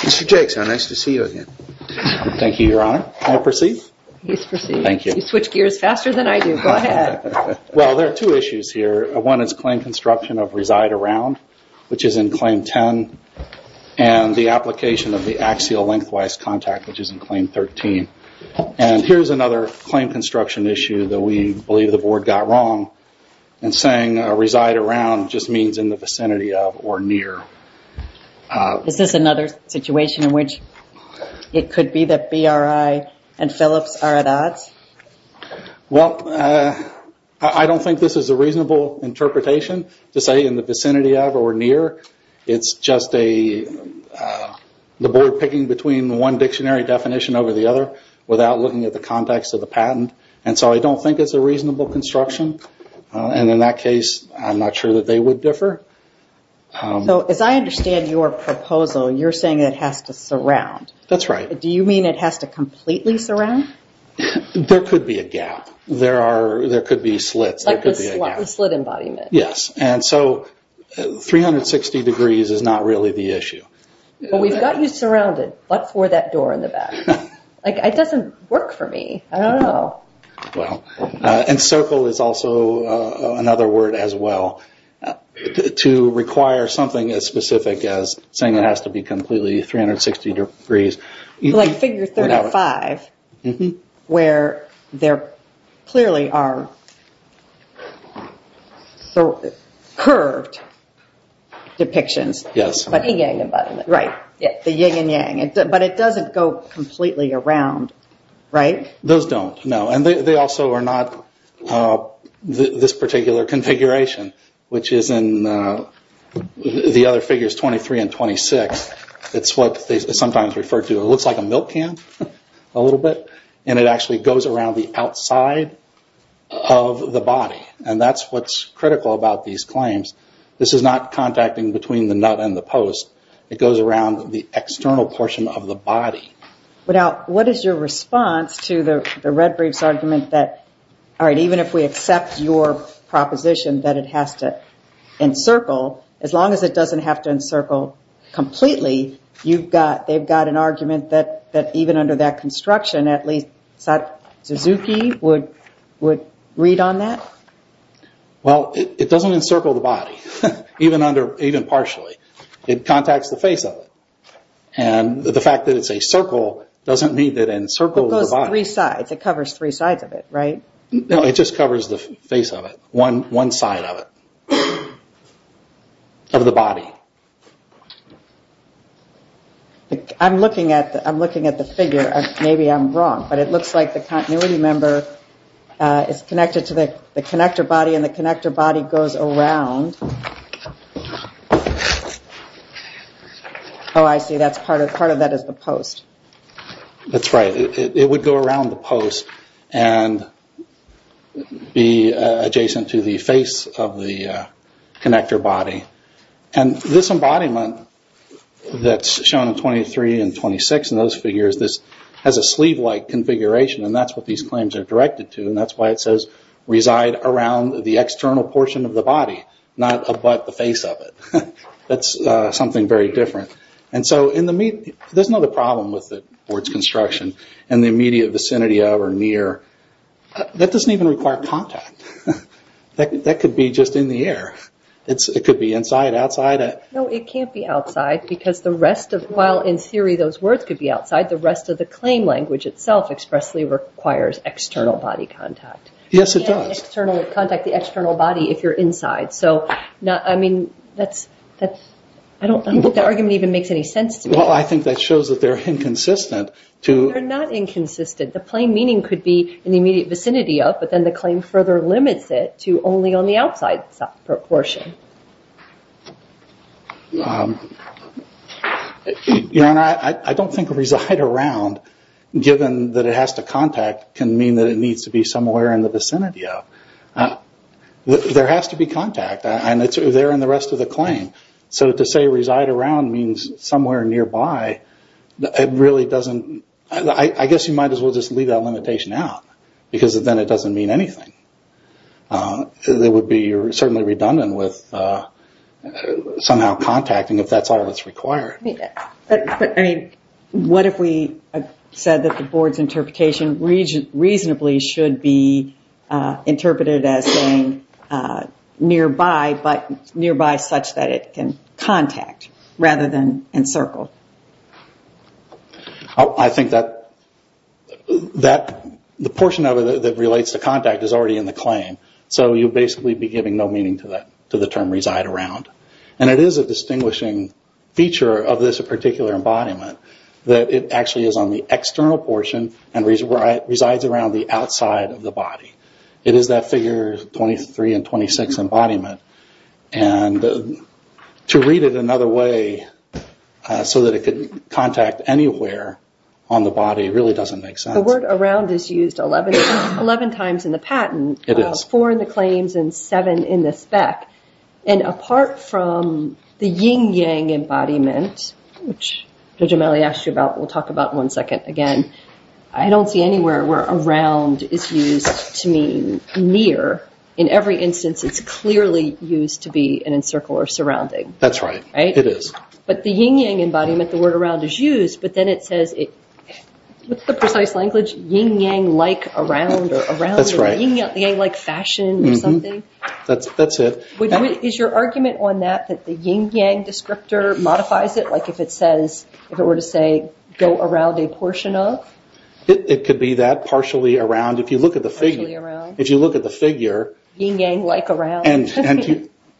Mr. Jakes, how nice to see you again. Thank you, Your Honor. May I proceed? Please proceed. Thank you. You switch gears faster than I do. Go ahead. Well, there are two issues here. One is claim construction of reside around, which is in Claim 10, and the application of the axial lengthwise contact, which is in Claim 13. And here's another claim construction issue that we believe the Board got wrong in saying reside around just means in the vicinity of or near. Is this another situation in which it could be that BRI and Phillips are at odds? Well, I don't think this is a reasonable interpretation to say in the vicinity of or near. It's just the Board picking between one dictionary definition over the other without looking at the context of the patent. And so I don't think it's a reasonable construction. And in that case, I'm not sure that they would differ. So as I understand your proposal, you're saying it has to surround. That's right. Do you mean it has to completely surround? There could be a gap. There could be slits. Like the slit embodiment. Yes. And so 360 degrees is not really the issue. Well, we've got you surrounded, but for that door in the back. It doesn't work for me. I don't know. Well, and circle is also another word as well to require something as specific as saying it has to be completely 360 degrees. Like figure 35, where there clearly are curved depictions. Yes. The ying and yang. But it doesn't go completely around, right? Those don't, no. And they also are not this particular configuration, which is in the other figures 23 and 26. It's what they sometimes refer to. It looks like a milk can a little bit. And it actually goes around the outside of the body. And that's what's critical about these claims. This is not contacting between the nut and the post. It goes around the external portion of the body. Now, what is your response to the Red Brief's argument that, all right, even if we accept your proposition that it has to encircle, as long as it doesn't have to encircle completely, they've got an argument that even under that construction, at least Suzuki would read on that? Well, it doesn't encircle the body, even partially. It contacts the face of it. And the fact that it's a circle doesn't mean that it encircles the body. It goes three sides. It covers three sides of it, right? No, it just covers the face of it, one side of it, of the body. I'm looking at the figure. Maybe I'm wrong. But it looks like the continuity member is connected to the connector body and the connector body goes around. Oh, I see. Part of that is the post. That's right. It would go around the post and be adjacent to the face of the connector body. And this embodiment that's shown in 23 and 26 in those figures, this has a sleeve-like configuration and that's what these claims are directed to. And that's why it says reside around the external portion of the body, not abut the face of it. That's something very different. There's another problem with the board's construction and the immediate vicinity of or near. That doesn't even require contact. That could be just in the air. It could be inside, outside. No, it can't be outside because the rest of, while in theory those words could be outside, the rest of the claim language itself expressly requires external body contact. Yes, it does. You can't contact the external body if you're inside. I don't think that argument even makes any sense to me. Well, I think that shows that they're inconsistent. They're not inconsistent. The plain meaning could be in the immediate vicinity of, but then the claim further limits it to only on the outside portion. Your Honor, I don't think reside around, given that it has to contact, can mean that it needs to be somewhere in the vicinity of. There has to be contact. They're in the rest of the claim. To say reside around means somewhere nearby. I guess you might as well just leave that limitation out because then it doesn't mean anything. It would be certainly redundant with somehow contacting if that's all that's required. What if we said that the board's interpretation reasonably should be interpreted as saying nearby, but nearby such that it can contact rather than encircle? I think that the portion of it that relates to contact is already in the claim. So you'd basically be giving no meaning to the term reside around. It is a distinguishing feature of this particular embodiment that it actually is on the external portion and resides around the outside of the body. It is that figure 23 and 26 embodiment. To read it another way so that it could contact anywhere on the body really doesn't make sense. The word around is used 11 times in the patent, 4 in the claims, and 7 in the spec. Apart from the yin-yang embodiment, which Judge O'Malley asked you about and we'll talk about in one second again, I don't see anywhere where around is used to mean near. In every instance, it's clearly used to be an encircle or surrounding. That's right. It is. But the yin-yang embodiment, the word around is used, but then it says, with the precise language, yin-yang-like around or around in a yin-yang-like fashion or something. That's it. Is your argument on that that the yin-yang descriptor modifies it? Like if it were to say, go around a portion of? It could be that, partially around. Partially around. If you look at the figure. Yin-yang-like around.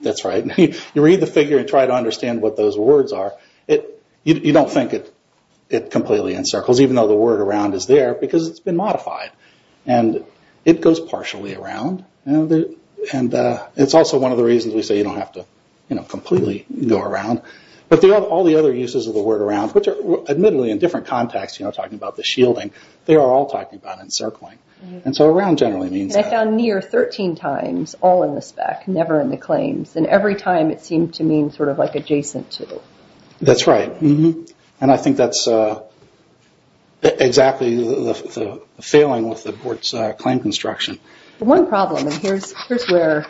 That's right. You read the figure and try to understand what those words are, you don't think it completely encircles, even though the word around is there because it's been modified. It goes partially around. It's also one of the reasons we say you don't have to completely go around. But all the other uses of the word around, which are admittedly in different contexts, talking about the shielding, they are all talking about encircling. So around generally means that. I found near 13 times, all in the spec, never in the claims. And every time it seemed to mean sort of like adjacent to. That's right. And I think that's exactly the failing with the board's claim construction. One problem, and here's where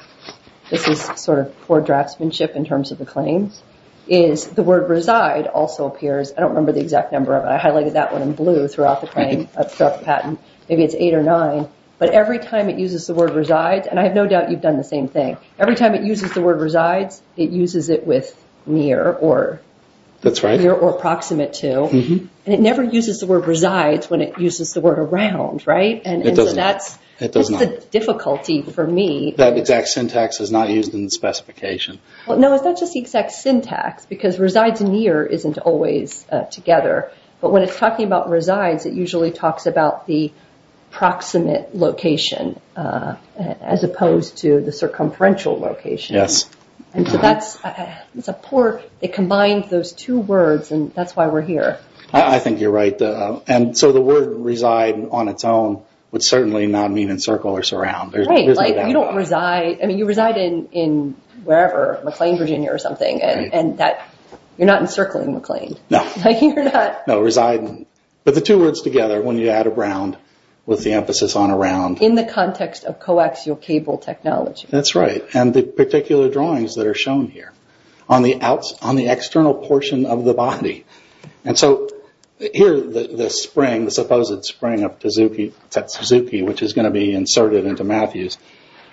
this is sort of poor draftsmanship in terms of the claims, is the word reside also appears. I don't remember the exact number of it. I highlighted that one in blue throughout the patent. Maybe it's eight or nine. But every time it uses the word resides, and I have no doubt you've done the same thing, every time it uses the word resides, it uses it with near or proximate to. And it never uses the word resides when it uses the word around, right? It does not. That's the difficulty for me. That exact syntax is not used in the specification. Well, no, it's not just the exact syntax because resides near isn't always together. But when it's talking about resides, it usually talks about the proximate location as opposed to the circumferential location. Yes. And so that's a poor, it combines those two words, and that's why we're here. I think you're right. And so the word reside on its own would certainly not mean encircle or surround. Right, like you don't reside, I mean you reside in wherever, McLean, Virginia or something, and you're not encircling McLean. No. You're not. No, reside, but the two words together when you add around with the emphasis on around. In the context of coaxial cable technology. That's right, and the particular drawings that are shown here on the external portion of the body. And so here the spring, the supposed spring of Suzuki, which is going to be inserted into Matthews,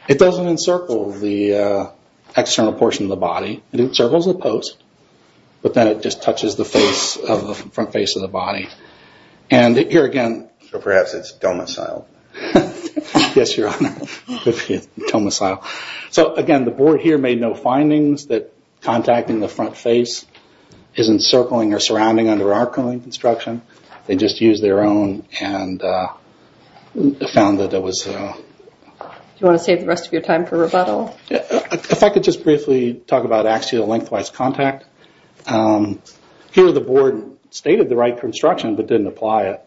it doesn't encircle the external portion of the body. It encircles the post, but then it just touches the face, the front face of the body. And here again. So perhaps it's domicile. Yes, Your Honor, domicile. So again, the board here made no findings that contacting the front face isn't circling or surrounding under our construction. They just used their own and found that it was. Do you want to save the rest of your time for rebuttal? If I could just briefly talk about axial lengthwise contact. Here the board stated the right construction, but didn't apply it.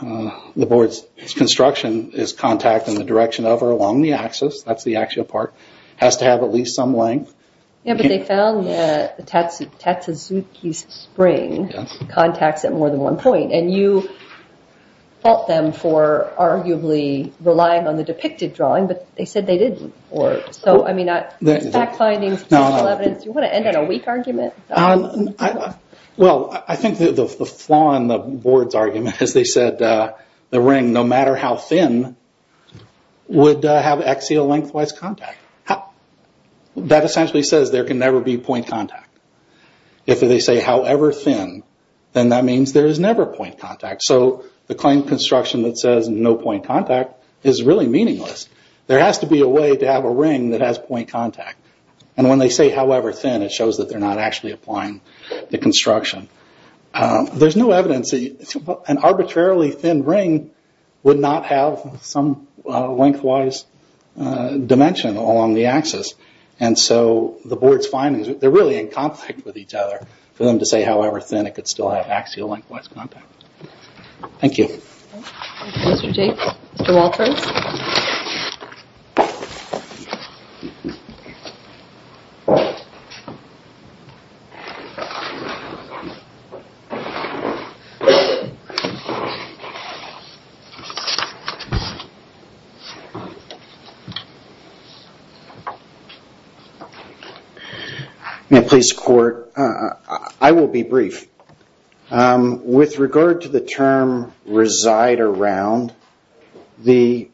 The board's construction is contact in the direction of or along the axis. That's the axial part. It has to have at least some length. Yeah, but they found that the Tatsuzuki spring contacts at more than one point. And you fault them for arguably relying on the depicted drawing, but they said they didn't. So, I mean, back findings, evidence. Do you want to end on a weak argument? Well, I think the flaw in the board's argument is they said the ring, no matter how thin, would have axial lengthwise contact. That essentially says there can never be point contact. If they say however thin, then that means there is never point contact. So the claim construction that says no point contact is really meaningless. There has to be a way to have a ring that has point contact. And when they say however thin, it shows that they're not actually applying the construction. There's no evidence that an arbitrarily thin ring would not have some lengthwise dimension along the axis. And so the board's findings, they're really in conflict with each other for them to say however thin it could still have axial lengthwise contact. Thank you. Thank you, Mr. Tate. Mr. Walters. May I please court? I will be brief. With regard to the term reside around, the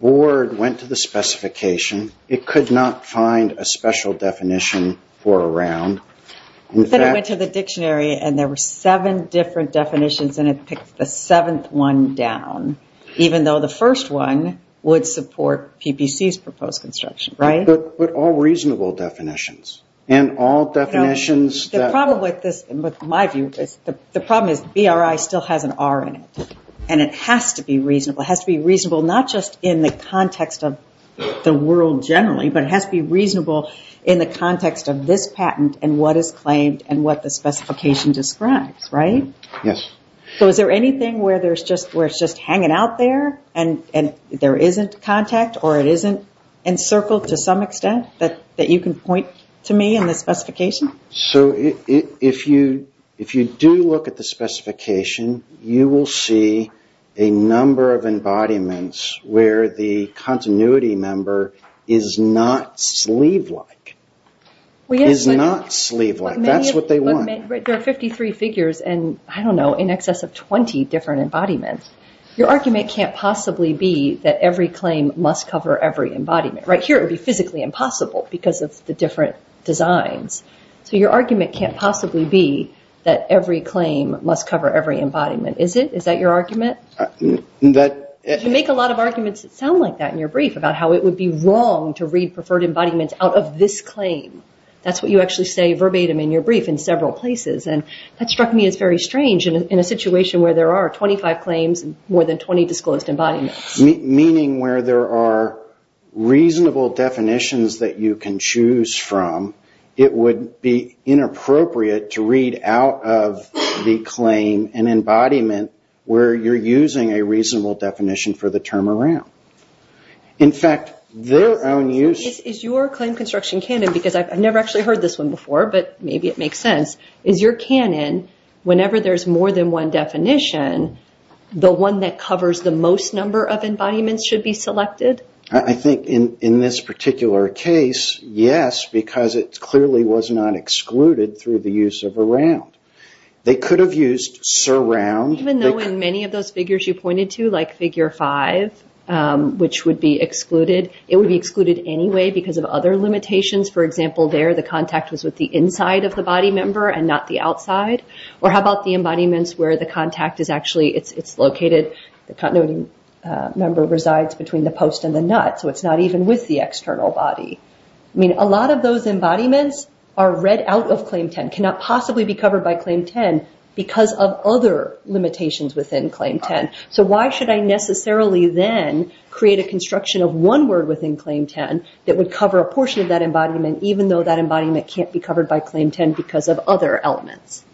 board went to the specification. It could not find a special definition for around. But it went to the dictionary and there were seven different definitions and it picked the seventh one down, even though the first one would support PPC's proposed construction, right? But all reasonable definitions. The problem with this, in my view, the problem is BRI still has an R in it. And it has to be reasonable. It has to be reasonable not just in the context of the world generally, but it has to be reasonable in the context of this patent and what is claimed and what the specification describes, right? Yes. So is there anything where it's just hanging out there and there isn't contact or it isn't encircled to some extent that you can point to me in the specification? So if you do look at the specification, you will see a number of embodiments where the continuity member is not sleeve-like. Is not sleeve-like. That's what they want. There are 53 figures and, I don't know, in excess of 20 different embodiments. Your argument can't possibly be that every claim must cover every embodiment. Right here it would be physically impossible because of the different designs. So your argument can't possibly be that every claim must cover every embodiment, is it? Is that your argument? You make a lot of arguments that sound like that in your brief, about how it would be wrong to read preferred embodiments out of this claim. That's what you actually say verbatim in your brief in several places. And that struck me as very strange in a situation where there are 25 claims and more than 20 disclosed embodiments. Meaning where there are reasonable definitions that you can choose from, it would be inappropriate to read out of the claim an embodiment where you're using a reasonable definition for the term around. In fact, their own use... Is your claim construction canon, because I've never actually heard this one before, but maybe it makes sense, is your canon, whenever there's more than one definition, the one that covers the most number of embodiments should be selected? I think in this particular case, yes, because it clearly was not excluded through the use of around. They could have used surround... Even though in many of those figures you pointed to, like figure 5, which would be excluded, it would be excluded anyway because of other limitations. For example, there the contact was with the inside of the body member and not the outside. Or how about the embodiments where the contact is actually... It's located... The continuity member resides between the post and the nut, so it's not even with the external body. I mean, a lot of those embodiments are read out of Claim 10, cannot possibly be covered by Claim 10 because of other limitations within Claim 10. So why should I necessarily then create a construction of one word within Claim 10 that would cover a portion of that embodiment, even though that embodiment can't be covered by Claim 10 because of other elements?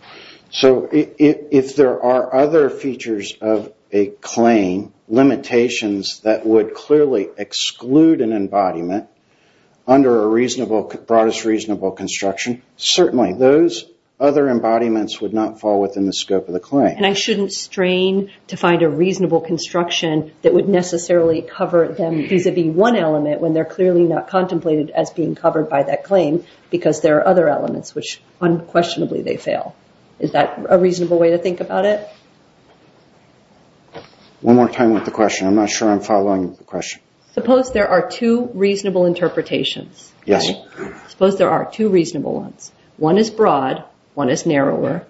So if there are other features of a claim, limitations that would clearly exclude an embodiment under a broadest reasonable construction, certainly those other embodiments would not fall within the scope of the claim. And I shouldn't strain to find a reasonable construction that would necessarily cover them vis-a-vis one element when they're clearly not contemplated as being covered by that claim because there are other elements which unquestionably they fail. Is that a reasonable way to think about it? One more time with the question. I'm not sure I'm following the question. Suppose there are two reasonable interpretations. Yes. Suppose there are two reasonable ones. One is broad, one is narrower.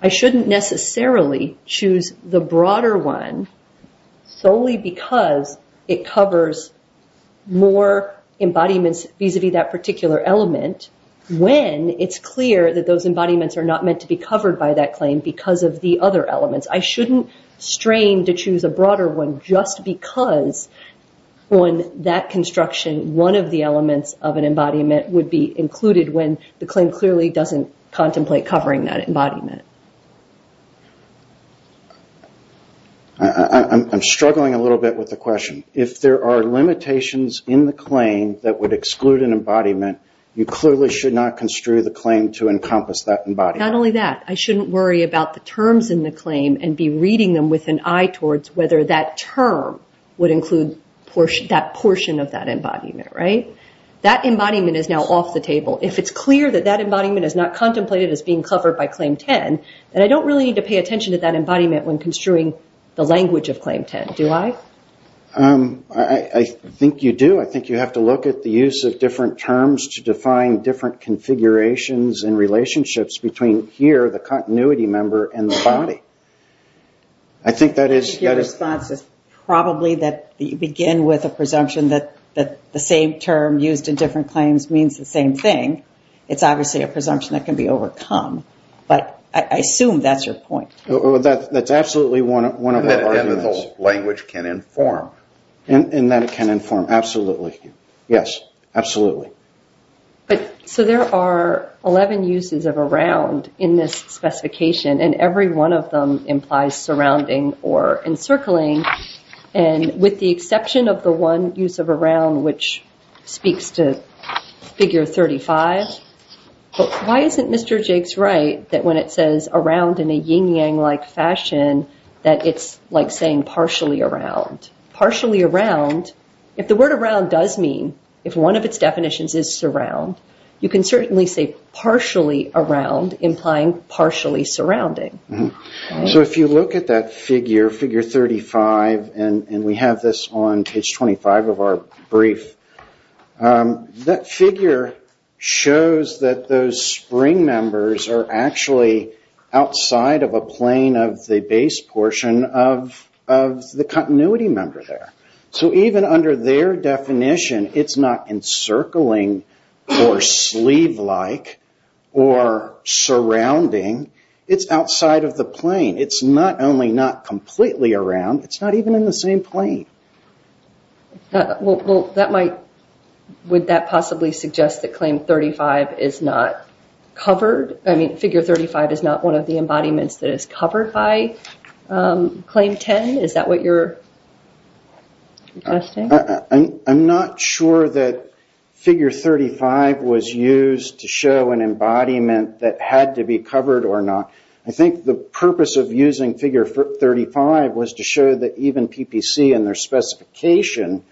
I shouldn't necessarily choose the broader one solely because it covers more embodiments vis-a-vis that particular element when it's clear that those embodiments are not meant to be covered by that claim because of the other elements. I shouldn't strain to choose a broader one just because on that construction one of the elements of an embodiment would be included when the claim clearly doesn't contemplate covering that embodiment. I'm struggling a little bit with the question. If there are limitations in the claim that would exclude an embodiment you clearly should not construe the claim to encompass that embodiment. Not only that. I shouldn't worry about the terms in the claim and be reading them with an eye towards whether that term would include that portion of that embodiment. That embodiment is now off the table. If it's clear that that embodiment is not contemplated as being covered by Claim 10 then I don't really need to pay attention to that embodiment when construing the language of Claim 10. Do I? I think you do. I think you have to look at the use of different terms to define different configurations and relationships between here, the continuity member, and the body. Your response is probably that you begin with a presumption that the same term used in different claims means the same thing. It's obviously a presumption that can be overcome. But I assume that's your point. That's absolutely one of our arguments. And that the language can inform. And that it can inform, absolutely. Yes, absolutely. So there are 11 uses of around in this specification and every one of them implies surrounding or encircling. And with the exception of the one use of around which speaks to Figure 35, why isn't Mr. Jakes right that when it says around in a yin-yang-like fashion that it's like saying partially around? Partially around, if the word around does mean, if one of its definitions is surround, you can certainly say partially around, implying partially surrounding. So if you look at that figure, Figure 35, and we have this on page 25 of our brief, that figure shows that those spring members are actually outside of a plane of the base portion of the continuity member there. So even under their definition, it's not encircling or sleeve-like or surrounding. It's outside of the plane. It's not only not completely around, it's not even in the same plane. Would that possibly suggest that Claim 35 is not covered? I mean, Figure 35 is not one of the embodiments that is covered by Claim 10? Is that what you're suggesting? I'm not sure that Figure 35 was used to show an embodiment that had to be covered or not. I think the purpose of using Figure 35 was to show that even PPC and their specification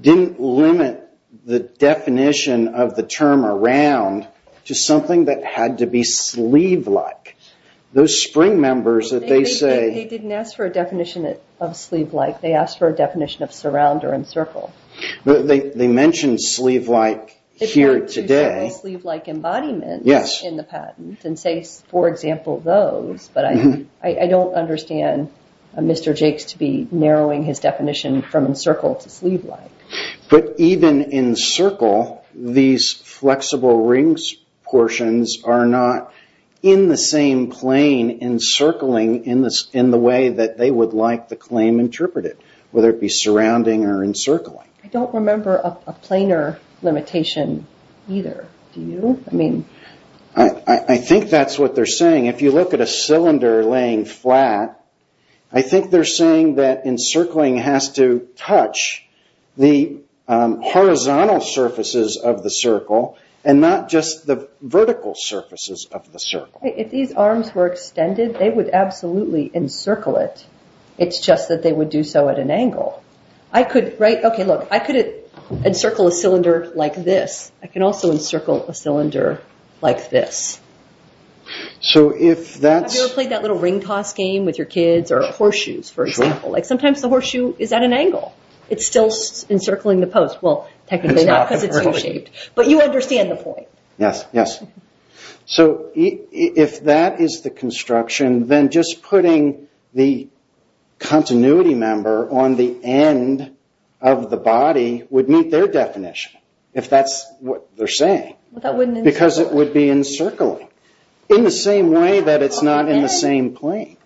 didn't limit the definition of the term around to something that had to be sleeve-like. Those spring members that they say... They didn't ask for a definition of sleeve-like. They asked for a definition of surround or encircle. They mentioned sleeve-like here today. They mentioned several sleeve-like embodiments in the patent and say, for example, those. But I don't understand Mr. Jakes to be narrowing his definition from encircle to sleeve-like. But even encircle, these flexible rings portions are not in the same plane encircling in the way that they would like the claim interpreted, whether it be surrounding or encircling. I don't remember a planar limitation either. Do you? I think that's what they're saying. If you look at a cylinder laying flat, I think they're saying that encircling has to touch the horizontal surfaces of the circle and not just the vertical surfaces of the circle. If these arms were extended, they would absolutely encircle it. It's just that they would do so at an angle. I could encircle a cylinder like this. I can also encircle a cylinder like this. Have you ever played that little ring-toss game with your kids or horseshoes, for example? Sometimes the horseshoe is at an angle. It's still encircling the post. Well, technically not because it's U-shaped. But you understand the point. Yes. If that is the construction, then just putting the continuity member on the end of the body would meet their definition, if that's what they're saying. Because it would be encircling, in the same way that it's not in the same plane.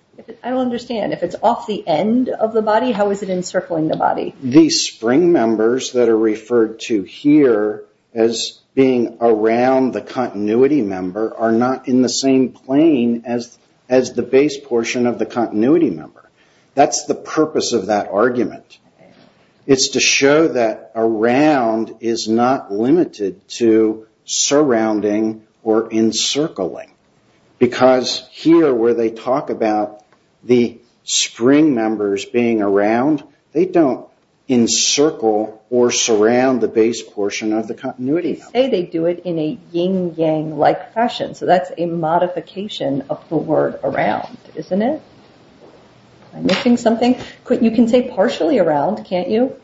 I don't understand. If it's off the end of the body, how is it encircling the body? These spring members that are referred to here as being around the continuity member are not in the same plane as the base portion of the continuity member. That's the purpose of that argument. It's to show that around is not limited to surrounding or encircling. Because here, where they talk about the spring members being around, they don't encircle or surround the base portion of the continuity member. They don't say they do it in a yin-yang-like fashion. So that's a modification of the word around, isn't it? Am I missing something? You can say partially around, can't you?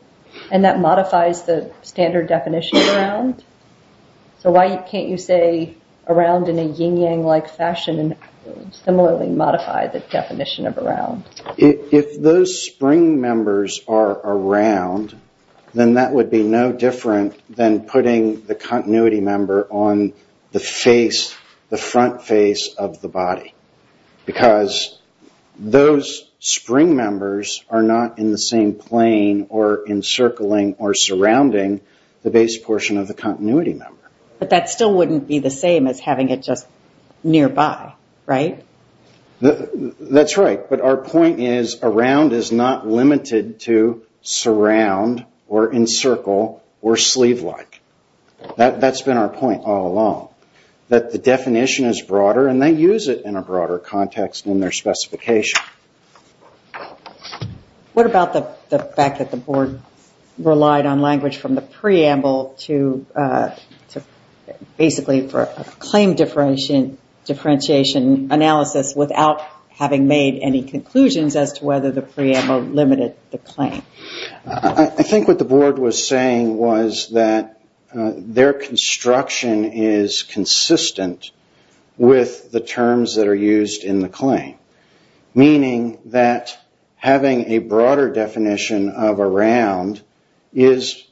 And that modifies the standard definition of around. So why can't you say around in a yin-yang-like fashion and similarly modify the definition of around? If those spring members are around, then that would be no different than putting the continuity member on the face, the front face of the body. Because those spring members are not in the same plane or encircling or surrounding the base portion of the continuity member. But that still wouldn't be the same as having it just nearby, right? That's right. But our point is around is not limited to surround or encircle or sleeve-like. That's been our point all along. That the definition is broader and they use it in a broader context than their specification. What about the fact that the board relied on language from the preamble to basically for a claim differentiation analysis without having made any conclusions as to whether the preamble limited the claim? I think what the board was saying was that their construction is consistent with the terms that are used in the claim. Meaning that having a broader definition of around is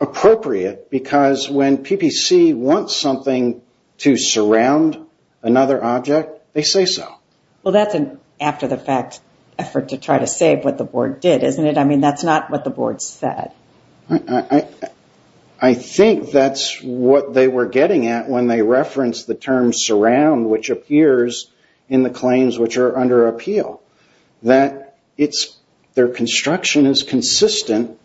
appropriate because when PPC wants something to surround another object, they say so. Well, that's an after-the-fact effort to try to save what the board did, isn't it? I mean, that's not what the board said. I think that's what they were getting at when they referenced the term surround, which appears in the claims which are under appeal. That their construction is consistent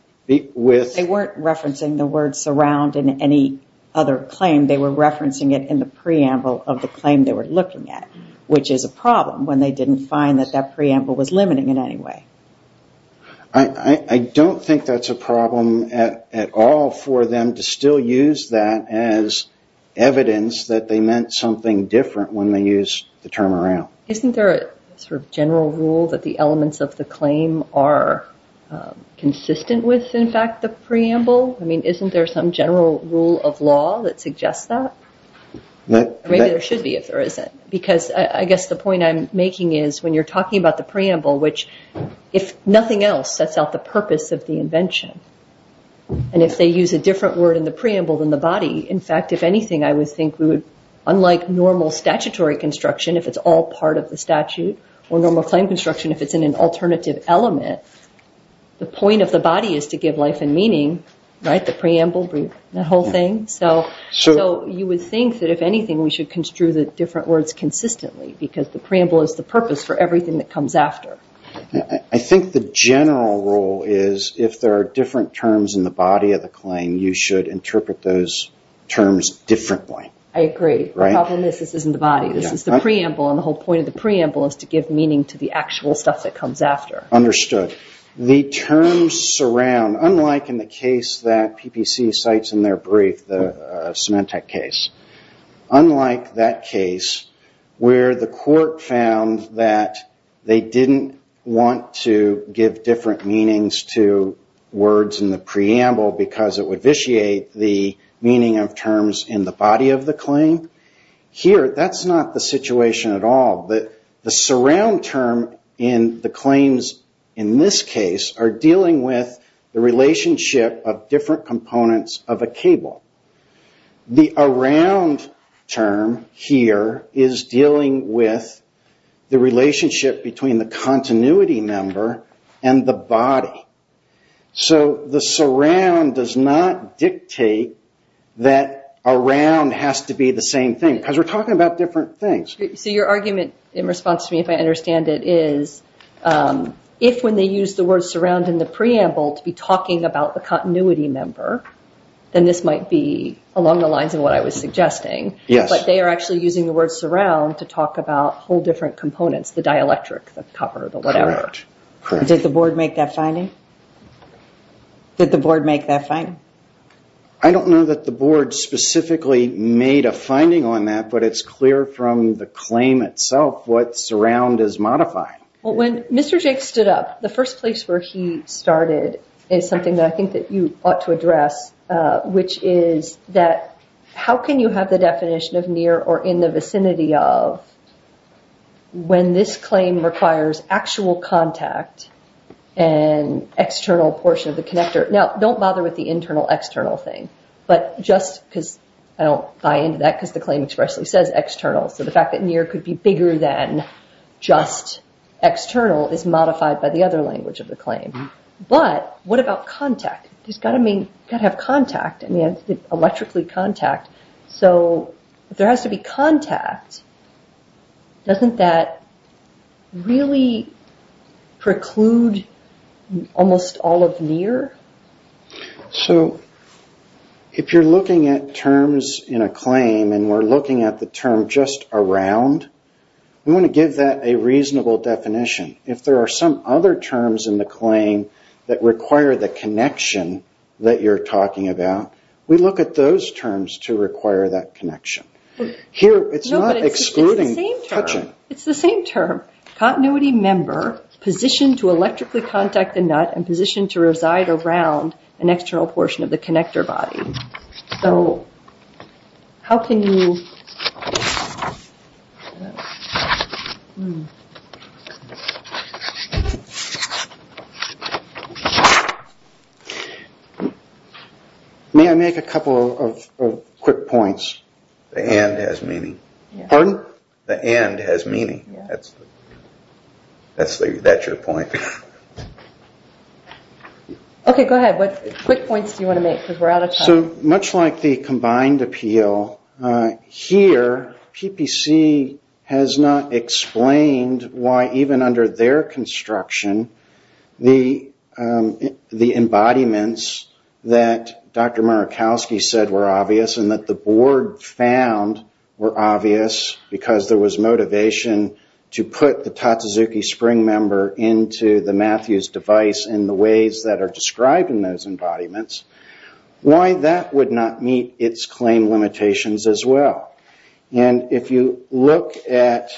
with... ...surround and any other claim, they were referencing it in the preamble of the claim they were looking at, which is a problem when they didn't find that that preamble was limiting in any way. I don't think that's a problem at all for them to still use that as evidence that they meant something different when they used the term around. Isn't there a sort of general rule that the elements of the claim are consistent with, in fact, the preamble? I mean, isn't there some general rule of law that suggests that? Maybe there should be if there isn't, because I guess the point I'm making is when you're talking about the preamble, which, if nothing else, sets out the purpose of the invention, and if they use a different word in the preamble than the body, in fact, if anything, I would think we would, unlike normal statutory construction if it's all part of the statute or normal claim construction if it's in an alternative element, the point of the body is to give life and meaning, right? The preamble, the whole thing. So you would think that, if anything, we should construe the different words consistently because the preamble is the purpose for everything that comes after. I think the general rule is if there are different terms in the body of the claim, you should interpret those terms differently. I agree. The problem is this isn't the body. This is the preamble, and the whole point of the preamble is to give meaning to the actual stuff that comes after. Understood. The terms surround, unlike in the case that PPC cites in their brief, the Symantec case, unlike that case where the court found that they didn't want to give different meanings to words in the preamble because it would vitiate the meaning of terms in the body of the claim, here that's not the situation at all. The surround term in the claims in this case are dealing with the relationship of different components of a cable. The around term here is dealing with the relationship between the continuity number and the body. So the surround does not dictate that around has to be the same thing because we're talking about different things. So your argument in response to me, if I understand it, is if when they use the word surround in the preamble to be talking about the continuity number, then this might be along the lines of what I was suggesting. Yes. But they are actually using the word surround to talk about whole different components, the dielectric, the cover, the whatever. Correct. Did the board make that finding? I don't know that the board specifically made a finding on that, but it's clear from the claim itself what surround is modifying. When Mr. Jake stood up, the first place where he started is something that I think that you ought to address, which is that how can you have the definition of near or in the vicinity of when this claim requires actual contact and external portion of the connector. Now, don't bother with the internal external thing, because I don't buy into that because the claim expressly says external. So the fact that near could be bigger than just external is modified by the other language of the claim. But what about contact? You've got to have contact, electrically contact. So if there has to be contact, doesn't that really preclude almost all of near? So if you're looking at terms in a claim and we're looking at the term just around, we want to give that a reasonable definition. If there are some other terms in the claim that require the connection that you're talking about, we look at those terms to require that connection. Here it's not excluding touching. It's the same term. Continuity member, positioned to electrically contact the nut and positioned to reside around an external portion of the connector body. So how can you... May I make a couple of quick points? The and has meaning. Pardon? The and has meaning. That's your point. Okay, go ahead. What quick points do you want to make? So much like the combined appeal, here PPC has not explained why even under their construction, the embodiments that Dr. Murakowski said were obvious and that the board found were obvious because there was motivation to put the Tatsuzuki spring member into the Matthews device in the ways that are described in those embodiments, why that would not meet its claim limitations as well. And if you look at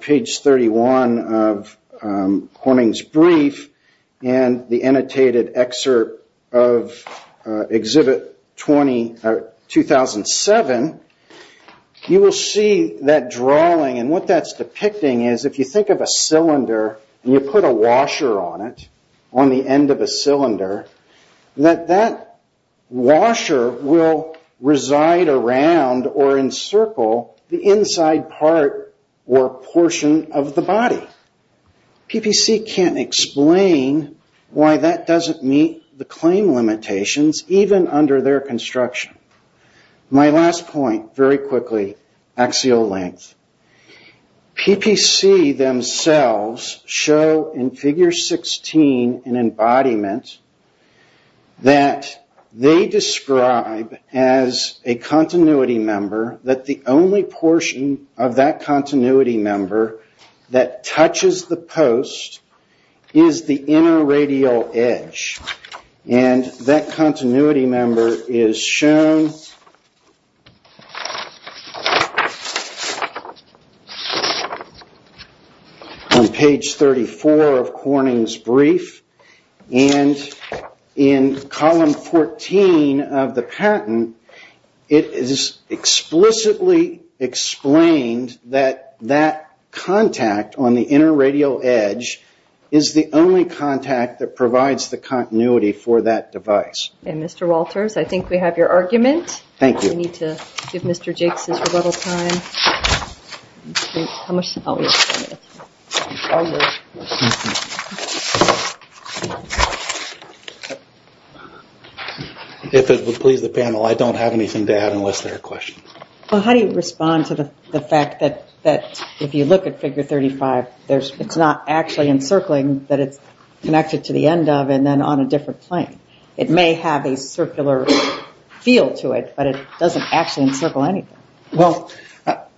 page 31 of Horning's brief and the annotated excerpt of exhibit 2007, you will see that drawing, and what that's depicting is if you think of a cylinder and you put a washer on it, on the end of a cylinder, that that washer will reside around or encircle the inside part or portion of the body. PPC can't explain why that doesn't meet the claim limitations even under their construction. My last point, very quickly, axial length. PPC themselves show in figure 16 in embodiment that they describe as a continuity member that the only portion of that continuity member that touches the post is the inner radial edge. And that continuity member is shown on page 34 of Horning's brief. And in column 14 of the patent, it is explicitly explained that that contact on the inner radial edge is the only contact that provides the continuity for that device. Okay, Mr. Walters, I think we have your argument. Thank you. We need to give Mr. Jakes his rebuttal time. How much time do we have? One minute. If it would please the panel, I don't have anything to add unless there are questions. Well, how do you respond to the fact that if you look at figure 35, it's not actually encircling, but it's connected to the end of and then on a different plane. It may have a circular feel to it, but it doesn't actually encircle anything. Well,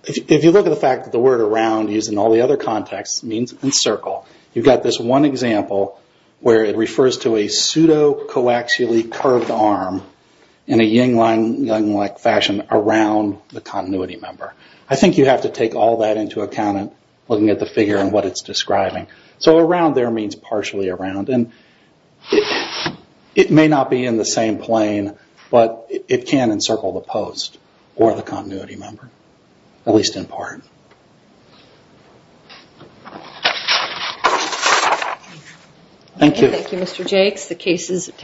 if you look at the fact that the word around used in all the other contexts means encircle, you've got this one example where it refers to a pseudo-coaxially curved arm in a yin-yang-like fashion around the continuity member. I think you have to take all that into account looking at the figure and what it's describing. So around there means partially around, and it may not be in the same plane, but it can encircle the post or the continuity member, at least in part. Thank you. Thank you, Mr. Jakes.